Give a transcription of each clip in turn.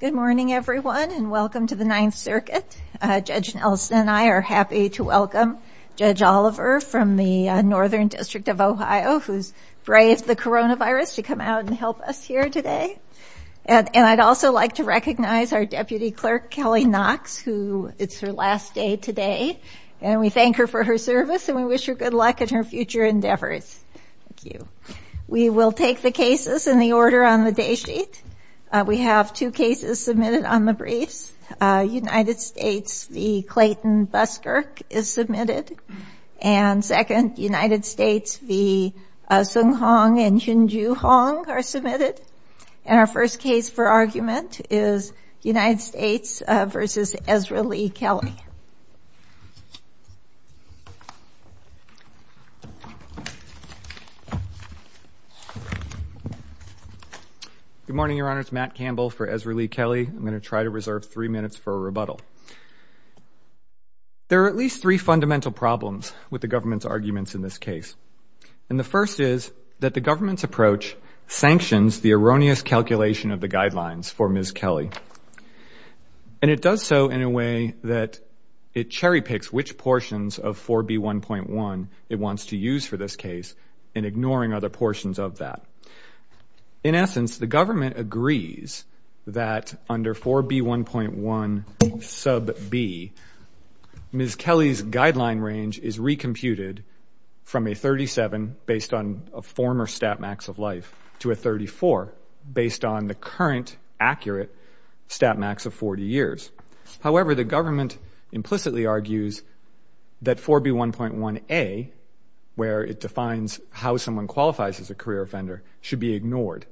Good morning everyone and welcome to the Ninth Circuit. Judge Nelson and I are happy to welcome Judge Oliver from the Northern District of Ohio who's braved the coronavirus to come out and help us here today. And I'd also like to recognize our Deputy Clerk Kelley Knox who it's her last day today and we thank her for her service and we wish her good luck in her future endeavors. Thank you. We will take the cases in the order on the day sheet. We have two cases submitted on the briefs. United States v. Clayton Buskirk is submitted and second United States v. Seung Hong and Hyunjoo Hong are submitted. And our first case for argument is United States v. Ezralee Kelley. Good morning, Your Honor. It's Matt Campbell for Ezralee Kelley. I'm going to try to reserve three minutes for a rebuttal. There are at least three fundamental problems with the government's arguments in this case. And the first is that the government's approach sanctions the erroneous calculation of the guidelines for Ms. Kelley. And it does so in a way that it cherry-picks which portions of this case and ignoring other portions of that. In essence, the government agrees that under 4B1.1 sub B, Ms. Kelley's guideline range is recomputed from a 37 based on a former stat max of life to a 34 based on the current accurate stat max of 40 years. However, the government implicitly argues that 4B1.1A, where it defines how someone qualifies as a career offender, should be ignored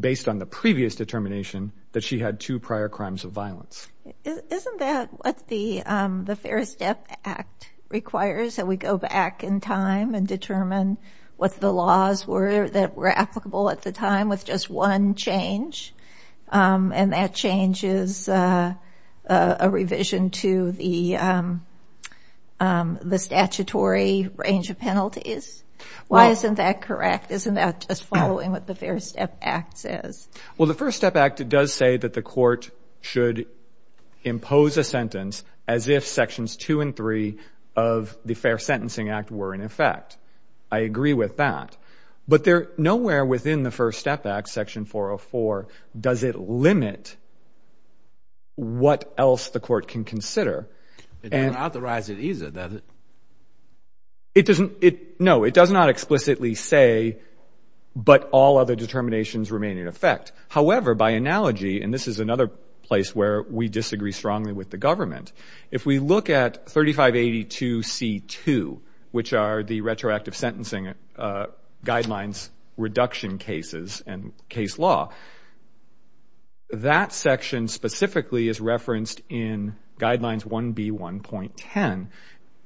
based on the previous determination that she had two prior crimes of violence. Isn't that what the the Fair Step Act requires that we go back in time and determine what the laws were that were applicable at the time with just one change? And that change is a revision to the statutory range of penalties? Why isn't that correct? Isn't that just following what the Fair Step Act says? Well, the First Step Act does say that the court should impose a sentence as if sections two and three of the Fair Sentencing Act were in effect. I agree with that. But nowhere within the First Step Act, Section 404, does it limit what else the court can consider. It doesn't authorize it either, does it? No, it does not explicitly say, but all other determinations remain in effect. However, by analogy, and this is another place where we disagree strongly with the guidelines reduction cases and case law, that section specifically is referenced in Guidelines 1B1.10.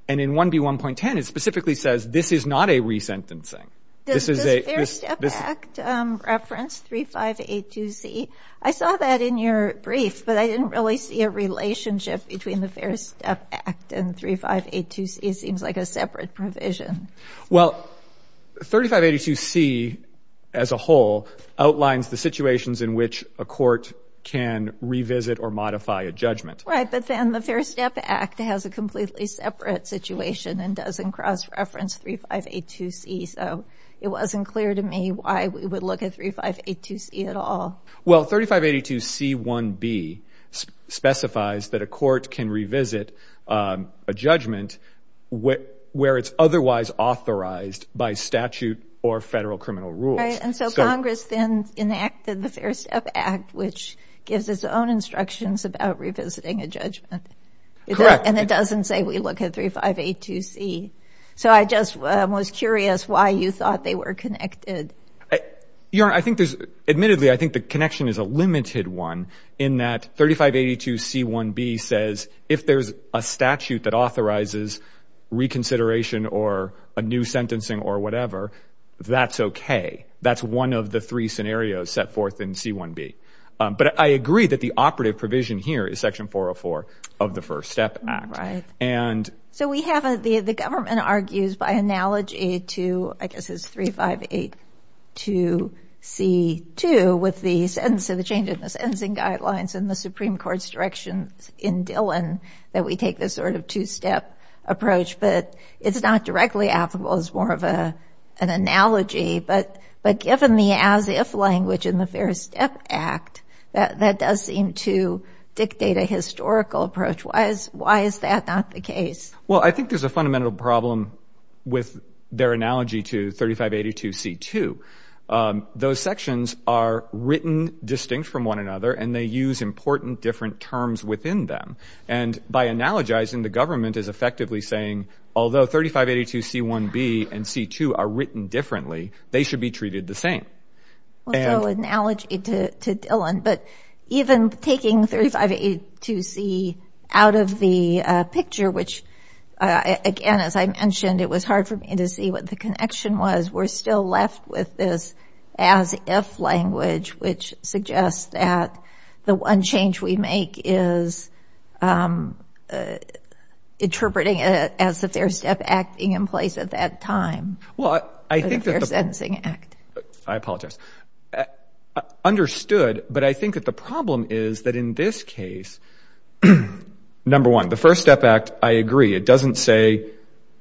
And in 1B1.10, it specifically says this is not a resentencing. Does the Fair Step Act reference 3582C? I saw that in your brief, but I didn't really see a relationship between the Fair Step Act and 3582C. It seems like a 3582C, as a whole, outlines the situations in which a court can revisit or modify a judgment. Right, but then the Fair Step Act has a completely separate situation and doesn't cross-reference 3582C. So it wasn't clear to me why we would look at 3582C at all. Well, 3582C1B specifies that a court can revisit a judgment where it's otherwise authorized by statute or federal criminal rules. Right, and so Congress then enacted the Fair Step Act, which gives its own instructions about revisiting a judgment. Correct. And it doesn't say we look at 3582C. So I just was curious why you thought they were connected. Your Honor, I think there's, admittedly, I think the connection is a limited one in that 3582C1B says if there's a statute that or a new sentencing or whatever, that's okay. That's one of the three scenarios set forth in C1B. But I agree that the operative provision here is Section 404 of the First Step Act. Right. And so we have, the government argues by analogy to, I guess it's 3582C2 with the change in the sentencing guidelines and the Supreme Court's direction in Dillon that we take this sort of two-step approach. But it's not directly applicable. It's more of an analogy. But given the as-if language in the Fair Step Act, that does seem to dictate a historical approach. Why is that not the case? Well, I think there's a fundamental problem with their analogy to 3582C2. Those sections are written distinct from one another, and they use important different terms within them. And by analogizing, the government is effectively saying, although 3582C1B and 3582C2 are written differently, they should be treated the same. So analogy to Dillon, but even taking 3582C out of the picture, which again, as I mentioned, it was hard for me to see what the connection was. We're still left with this as-if language, which suggests that the one change we make is interpreting it as the Fair Step Act being in place at that time. Well, I think that the... The Fair Sentencing Act. I apologize. Understood. But I think that the problem is that in this case, number one, the First Step Act, I agree. It doesn't say,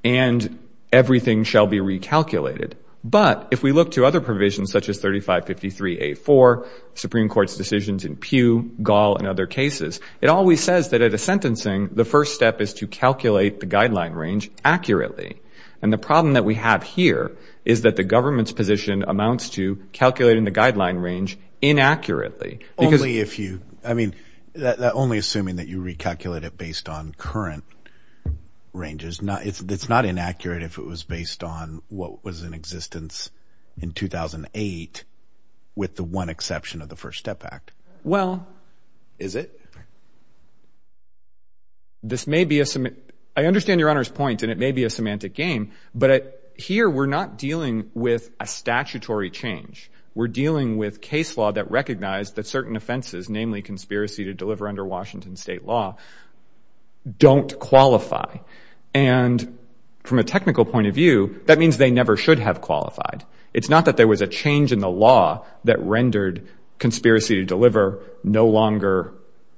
and everything shall be recalculated. But if we look to other provisions, such as 3553A4, Supreme Court's decisions in lieu, Gaul, and other cases, it always says that at a sentencing, the first step is to calculate the guideline range accurately. And the problem that we have here is that the government's position amounts to calculating the guideline range inaccurately. Only if you... I mean, only assuming that you recalculate it based on current ranges. It's not inaccurate if it was based on what was in existence in 2008, with the one exception of the First Step Act. Well... Is it? This may be a... I understand Your Honor's point, and it may be a semantic game, but here we're not dealing with a statutory change. We're dealing with case law that recognized that certain offenses, namely conspiracy to deliver under Washington state law, don't qualify. And from a technical point of view, that means they never should have qualified. It's not that there was a change in the statute. It's just that conspiracy to deliver no longer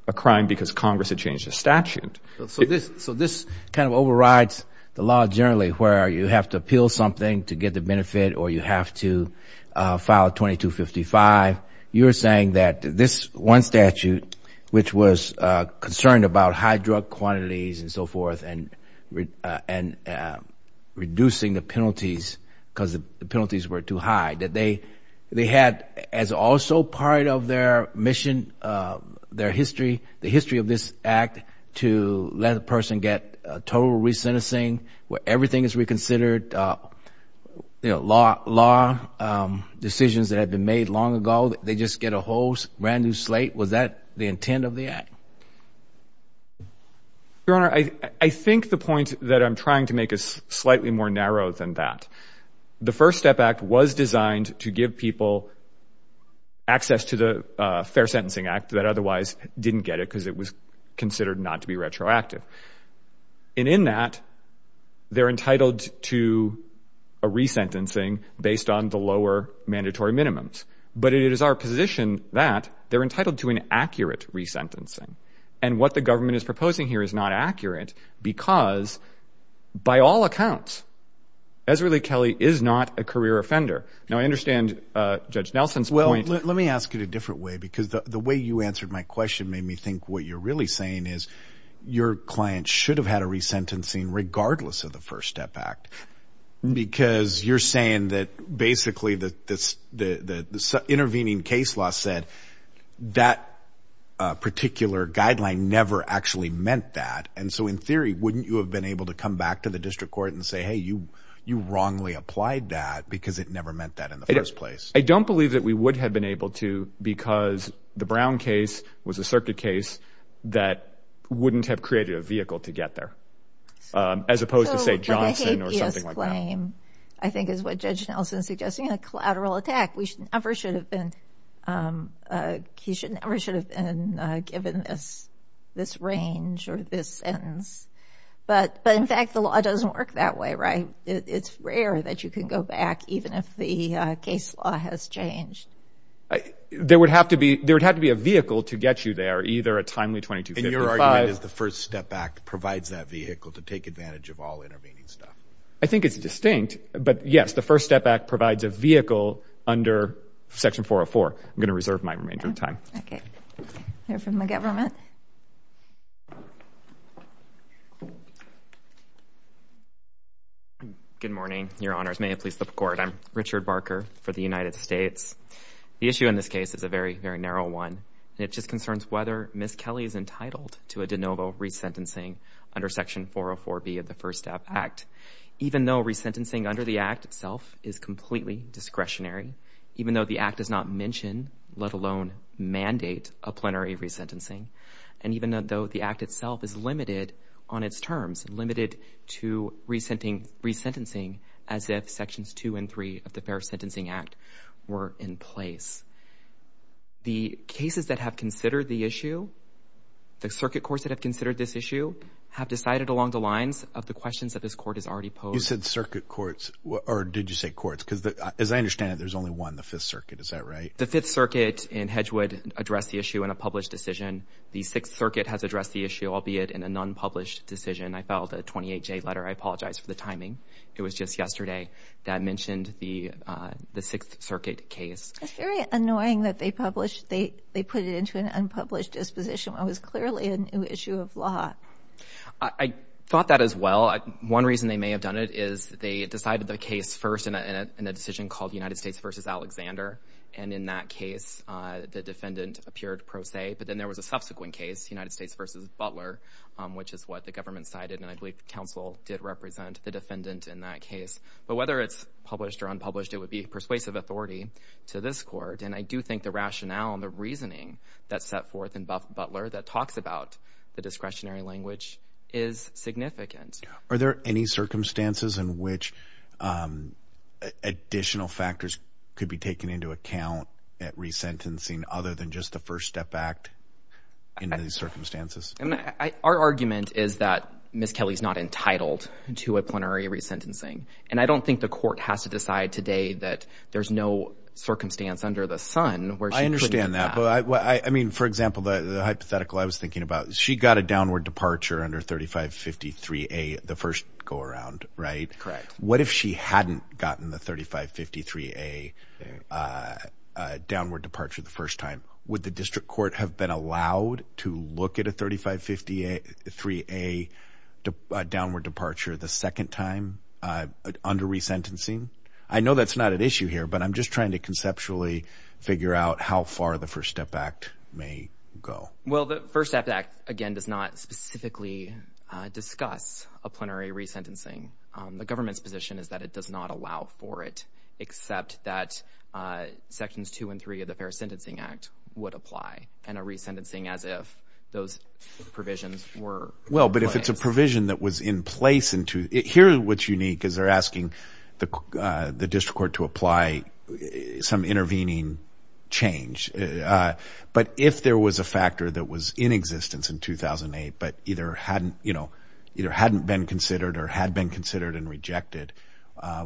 a crime because Congress had changed the statute. So this kind of overrides the law generally, where you have to appeal something to get the benefit, or you have to file 2255. You're saying that this one statute, which was concerned about high drug quantities and so forth and reducing the penalties because the penalties were too high, that they had, as also part of their mission, their history, the history of this act, to let the person get total re-sentencing, where everything is reconsidered, you know, law decisions that had been made long ago, they just get a whole brand new slate? Was that the intent of the act? Your Honor, I think the point that I'm trying to make is slightly more narrow than that. The First Step Act was designed to give people access to the Fair Sentencing Act that otherwise didn't get it because it was considered not to be retroactive. And in that, they're entitled to a re-sentencing based on the lower mandatory minimums. But it is our position that they're entitled to an accurate re-sentencing. And what the government is proposing here is not accurate because, by all accounts, Ezra Lee Kelley is not a career offender. Now, I understand Judge Nelson's point. Well, let me ask it a different way because the way you answered my question made me think what you're really saying is your client should have had a re-sentencing regardless of the First Step Act because you're saying that basically the intervening case law said that particular guideline never actually meant that. And so, in theory, wouldn't you have been able to come back to the district court and say, hey, you wrongly applied that because it never meant that in the first place? I don't believe that we would have been able to because the Brown case was a circuit case that wouldn't have created a vehicle to get there, as opposed to, say, Johnson or something like that. So, the habeas claim, I think, is what Judge Nelson is suggesting, a collateral attack. We should never should have been, he should never should have been given this range or this sentence. But, in fact, the law doesn't work that way, right? It's rare that you can go back even if the case law has changed. There would have to be a vehicle to get you there, either a timely 2255... And your argument is the First Step Act provides that vehicle to take advantage of all intervening stuff. I think it's distinct. But, yes, the First Step Act provides a vehicle under Section 404. I'm going to reserve my remainder of time. Okay. I hear from the government. Good morning, Your Honors. May it please the Court. I'm Richard Barker for the United States. The issue in this case is a very, very narrow one. It just concerns whether Ms. Kelly is entitled to a de novo resentencing under Section 404B of the First Step Act. Even though resentencing under the Act itself is a plenary resentencing, and even though the Act itself is limited on its terms, limited to resentencing as if Sections 2 and 3 of the Fair Sentencing Act were in place. The cases that have considered the issue, the circuit courts that have considered this issue, have decided along the lines of the questions that this Court has already posed. You said circuit courts, or did you say courts? Because, as I understand it, there's only one, the Fifth Circuit. Is that right? The Fifth Circuit in Hedgewood addressed the issue in a published decision. The Sixth Circuit has addressed the issue, albeit in an unpublished decision. I filed a 28-J letter. I apologize for the timing. It was just yesterday that I mentioned the Sixth Circuit case. It's very annoying that they published, they put it into an unpublished disposition when it was clearly a new issue of law. I thought that as well. One reason they may have done it is they decided the case first in a decision called United States v. Alexander. In that case, the defendant appeared pro se, but then there was a subsequent case, United States v. Butler, which is what the government cited. I believe the counsel did represent the defendant in that case. Whether it's published or unpublished, it would be persuasive authority to this Court. I do think the rationale and the reasoning that's set forth in Butler that talks about the discretionary language is significant. Are there any circumstances in which additional factors could be taken into account at resentencing other than just the First Step Act in these circumstances? Our argument is that Ms. Kelly is not entitled to a plenary resentencing. I don't think the Court has to decide today that there's no circumstance under the sun where she couldn't do that. I understand that. For example, the hypothetical I was thinking about, she got a downward departure under 3553A the first go-around. What if she hadn't gotten the 3553A downward departure the first time? Would the District Court have been allowed to look at a 3553A downward departure the second time under resentencing? I know that's not an issue here, but I'm just trying to conceptually figure out how far the First Step Act may go. Well, the First Step Act, again, does not specifically discuss a plenary resentencing. The government's position is that it does not allow for it, except that Sections 2 and 3 of the Fair Sentencing Act would apply, and a resentencing as if those provisions were in place. Well, but if it's a provision that was in place, here what's unique is they're asking the District Court to apply some intervening change. But if there was a factor that was in existence in 2008, but either hadn't, you know, either hadn't been considered or had been considered and rejected,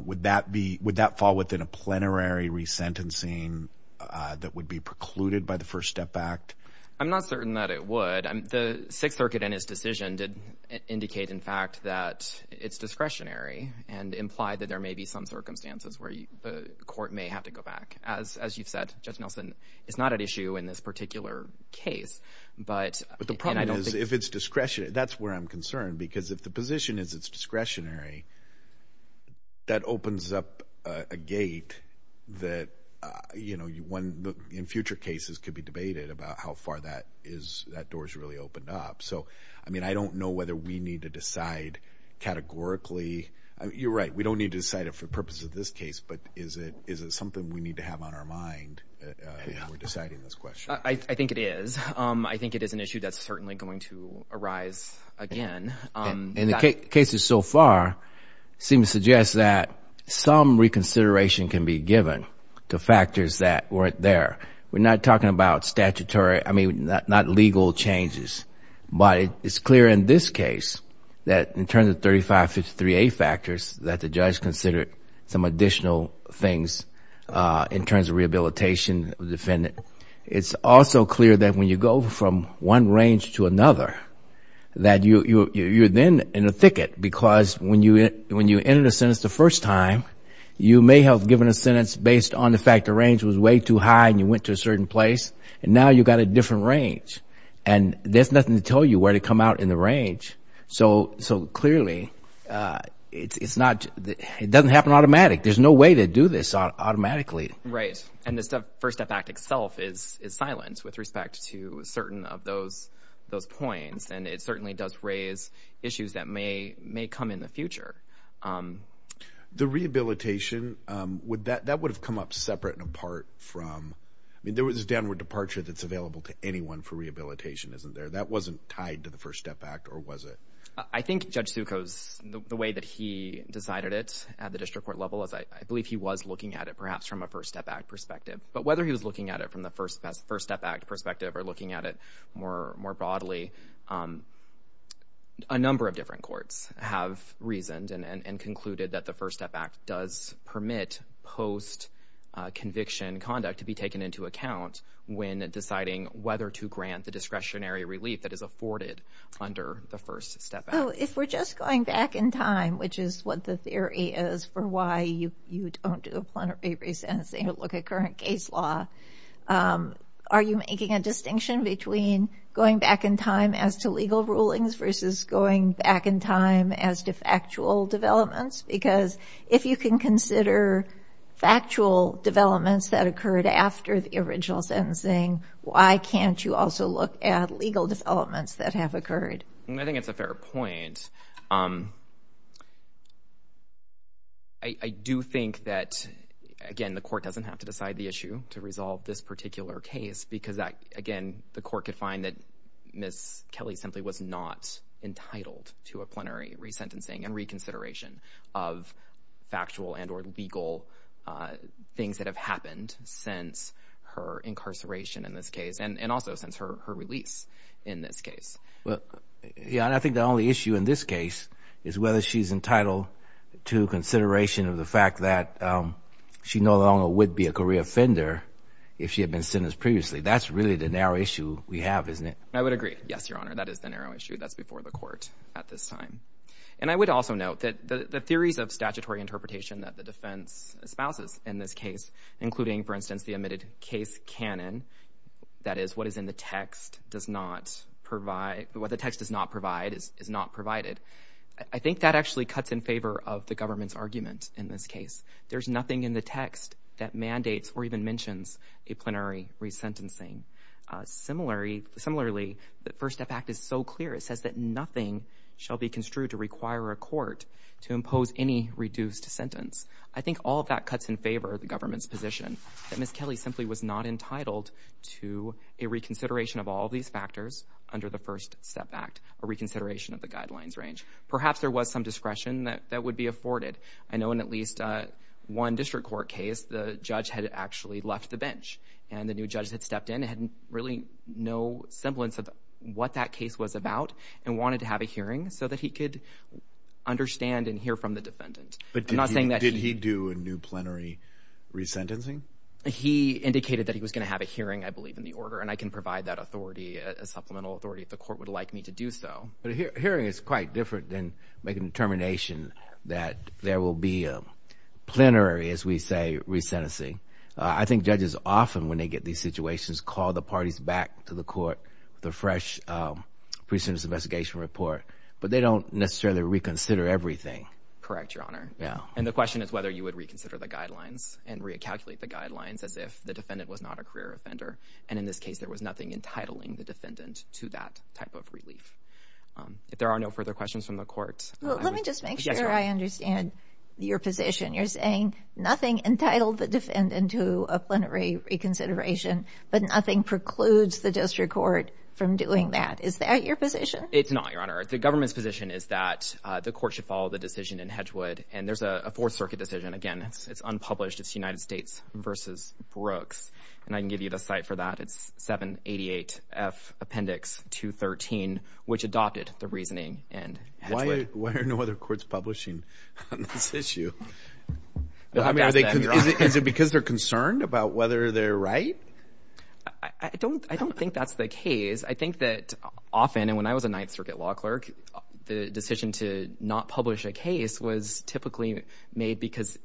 would that fall within a plenary resentencing that would be precluded by the First Step Act? I'm not certain that it would. The Sixth Circuit in his decision did indicate, in fact, that it's discretionary and implied that there may be some circumstances where the court may have to go back. As you've said, Judge Nelson, it's not an issue in this particular case. But the problem is, if it's discretionary, that's where I'm concerned, because if the position is it's discretionary, that opens up a gate that, you know, in future cases could be debated about how far that door's really opened up. So, I mean, I don't know whether we need to decide categorically. You're right, we don't need to decide it for the purposes of this case, but is it something we find when we're deciding this question? I think it is. I think it is an issue that's certainly going to arise again. And the cases so far seem to suggest that some reconsideration can be given to factors that weren't there. We're not talking about statutory, I mean, not legal changes, but it's clear in this case that in terms of 3553A factors that the judge considered some additional things in terms of rehabilitation defendant. It's also clear that when you go from one range to another, that you're then in a thicket, because when you entered a sentence the first time, you may have given a sentence based on the fact the range was way too high and you went to a certain place, and now you've got a different range. And there's nothing to tell you where to come out in the range. So, clearly, it's not, it doesn't happen automatic. There's no way to do this automatically. Right, and the First Step Act itself is silence with respect to certain of those points, and it certainly does raise issues that may come in the future. The rehabilitation, that would have come up separate and apart from, I mean, there was a downward departure that's available to anyone for rehabilitation, isn't there? That wasn't tied to the First Step Act, or was it? I think Judge Succo's, the way that he decided it at the district court level, as I believe he was looking at it perhaps from a First Step Act perspective, but whether he was looking at it from the First Step Act perspective or looking at it more broadly, a number of different courts have reasoned and concluded that the First Step Act does permit post-conviction conduct to be taken into account when deciding whether to grant the discretionary relief that is afforded under the First Step Act. If we're just going back in time, which is what the theory is for why you don't do a plenary re-sentencing or look at current case law, are you making a distinction between going back in time as to legal rulings versus going back in time as to factual developments? Because if you can consider factual developments that occurred after the original sentencing, why can't you also look at the original sentencing? And I do think that, again, the court doesn't have to decide the issue to resolve this particular case because that, again, the court could find that Ms. Kelly simply was not entitled to a plenary re-sentencing and reconsideration of factual and or legal things that have happened since her incarceration in this case, and also since her release in this case, is whether she's entitled to consideration of the fact that she no longer would be a career offender if she had been sentenced previously. That's really the narrow issue we have, isn't it? I would agree. Yes, Your Honor, that is the narrow issue that's before the court at this time. And I would also note that the theories of statutory interpretation that the defense espouses in this case, including, for instance, the omitted case canon, that is, what is in the text does not provide, what the text does not provide is not provided. I think that actually cuts in favor of the government's argument in this case. There's nothing in the text that mandates or even mentions a plenary re-sentencing. Similarly, the First Step Act is so clear, it says that nothing shall be construed to require a court to impose any reduced sentence. I think all of that cuts in favor of the government's position that Ms. Kelly simply was not entitled to a reconsideration of all these factors under the First Step Act, a reconsideration of the guidelines range. Perhaps there was some discretion that that would be afforded. I know in at least one district court case, the judge had actually left the bench and the new judge had stepped in and had really no semblance of what that case was about and wanted to have a hearing so that he could understand and hear from the indicated that he was going to have a hearing, I believe, in the order and I can provide that authority, a supplemental authority, if the court would like me to do so. But a hearing is quite different than making a determination that there will be a plenary, as we say, re-sentencing. I think judges often, when they get these situations, call the parties back to the court with a fresh precedence investigation report, but they don't necessarily reconsider everything. Correct, Your Honor. Yeah. And the question is whether you would reconsider the defendant was not a career offender and in this case there was nothing entitling the defendant to that type of relief. If there are no further questions from the court... Let me just make sure I understand your position. You're saying nothing entitled the defendant to a plenary reconsideration, but nothing precludes the district court from doing that. Is that your position? It's not, Your Honor. The government's position is that the court should follow the decision in Hedgewood and there's a Fourth Circuit decision, again, it's unpublished, it's versus Brooks, and I can give you the site for that. It's 788 F Appendix 213, which adopted the reasoning in Hedgewood. Why are no other courts publishing on this issue? Is it because they're concerned about whether they're right? I don't think that's the case. I think that often, and when I was a Ninth Circuit law clerk, the decision to not publish a case was typically made because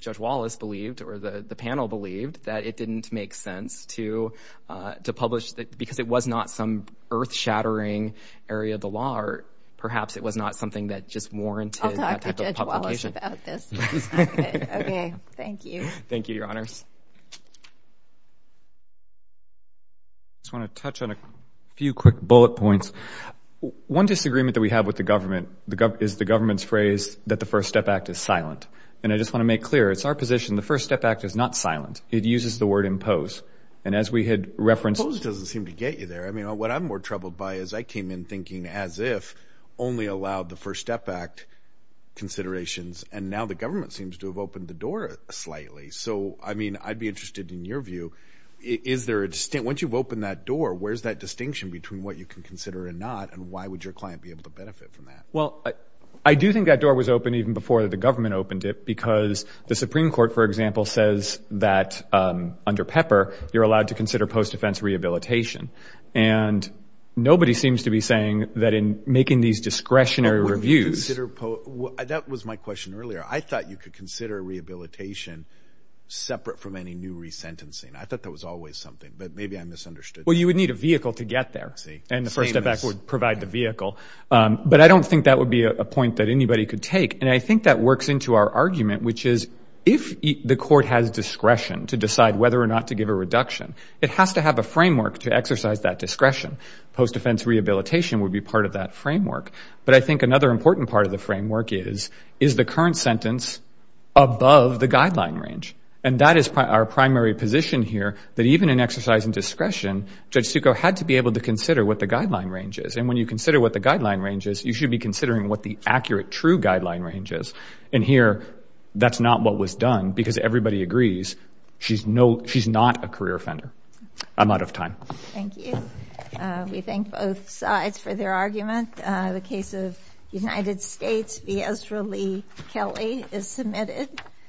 Judge Wallace believed, or the panel believed, that it didn't make sense to publish that because it was not some earth-shattering area of the law, or perhaps it was not something that just warranted that type of publication. I'll talk to Judge Wallace about this. Okay, thank you. Thank you, Your Honors. I just want to touch on a few quick bullet points. One disagreement that we have with the government is the government's phrase that the First Position, the First Step Act, is not silent. It uses the word impose, and as we had referenced... Impose doesn't seem to get you there. I mean, what I'm more troubled by is I came in thinking as if only allowed the First Step Act considerations, and now the government seems to have opened the door slightly. So, I mean, I'd be interested in your view. Is there a distinct... once you've opened that door, where's that distinction between what you can consider and not, and why would your client be able to benefit from that? Well, I do think that door was open even before the government opened it because the Supreme Court, for example, says that under Pepper, you're allowed to consider post-defense rehabilitation, and nobody seems to be saying that in making these discretionary reviews... That was my question earlier. I thought you could consider rehabilitation separate from any new resentencing. I thought that was always something, but maybe I misunderstood. Well, you would need a vehicle to get there, and the First Step Act would provide the vehicle, but I don't think that would be a point that anybody could take, and I think that is, if the court has discretion to decide whether or not to give a reduction, it has to have a framework to exercise that discretion. Post-defense rehabilitation would be part of that framework, but I think another important part of the framework is, is the current sentence above the guideline range, and that is our primary position here, that even in exercising discretion, Judge Succo had to be able to consider what the guideline range is, and when you consider what the guideline range is, you should be considering what the done, because everybody agrees, she's not a career offender. I'm out of time. Thank you. We thank both sides for their argument. The case of the United States, Viezra Lee Kelly, is submitted.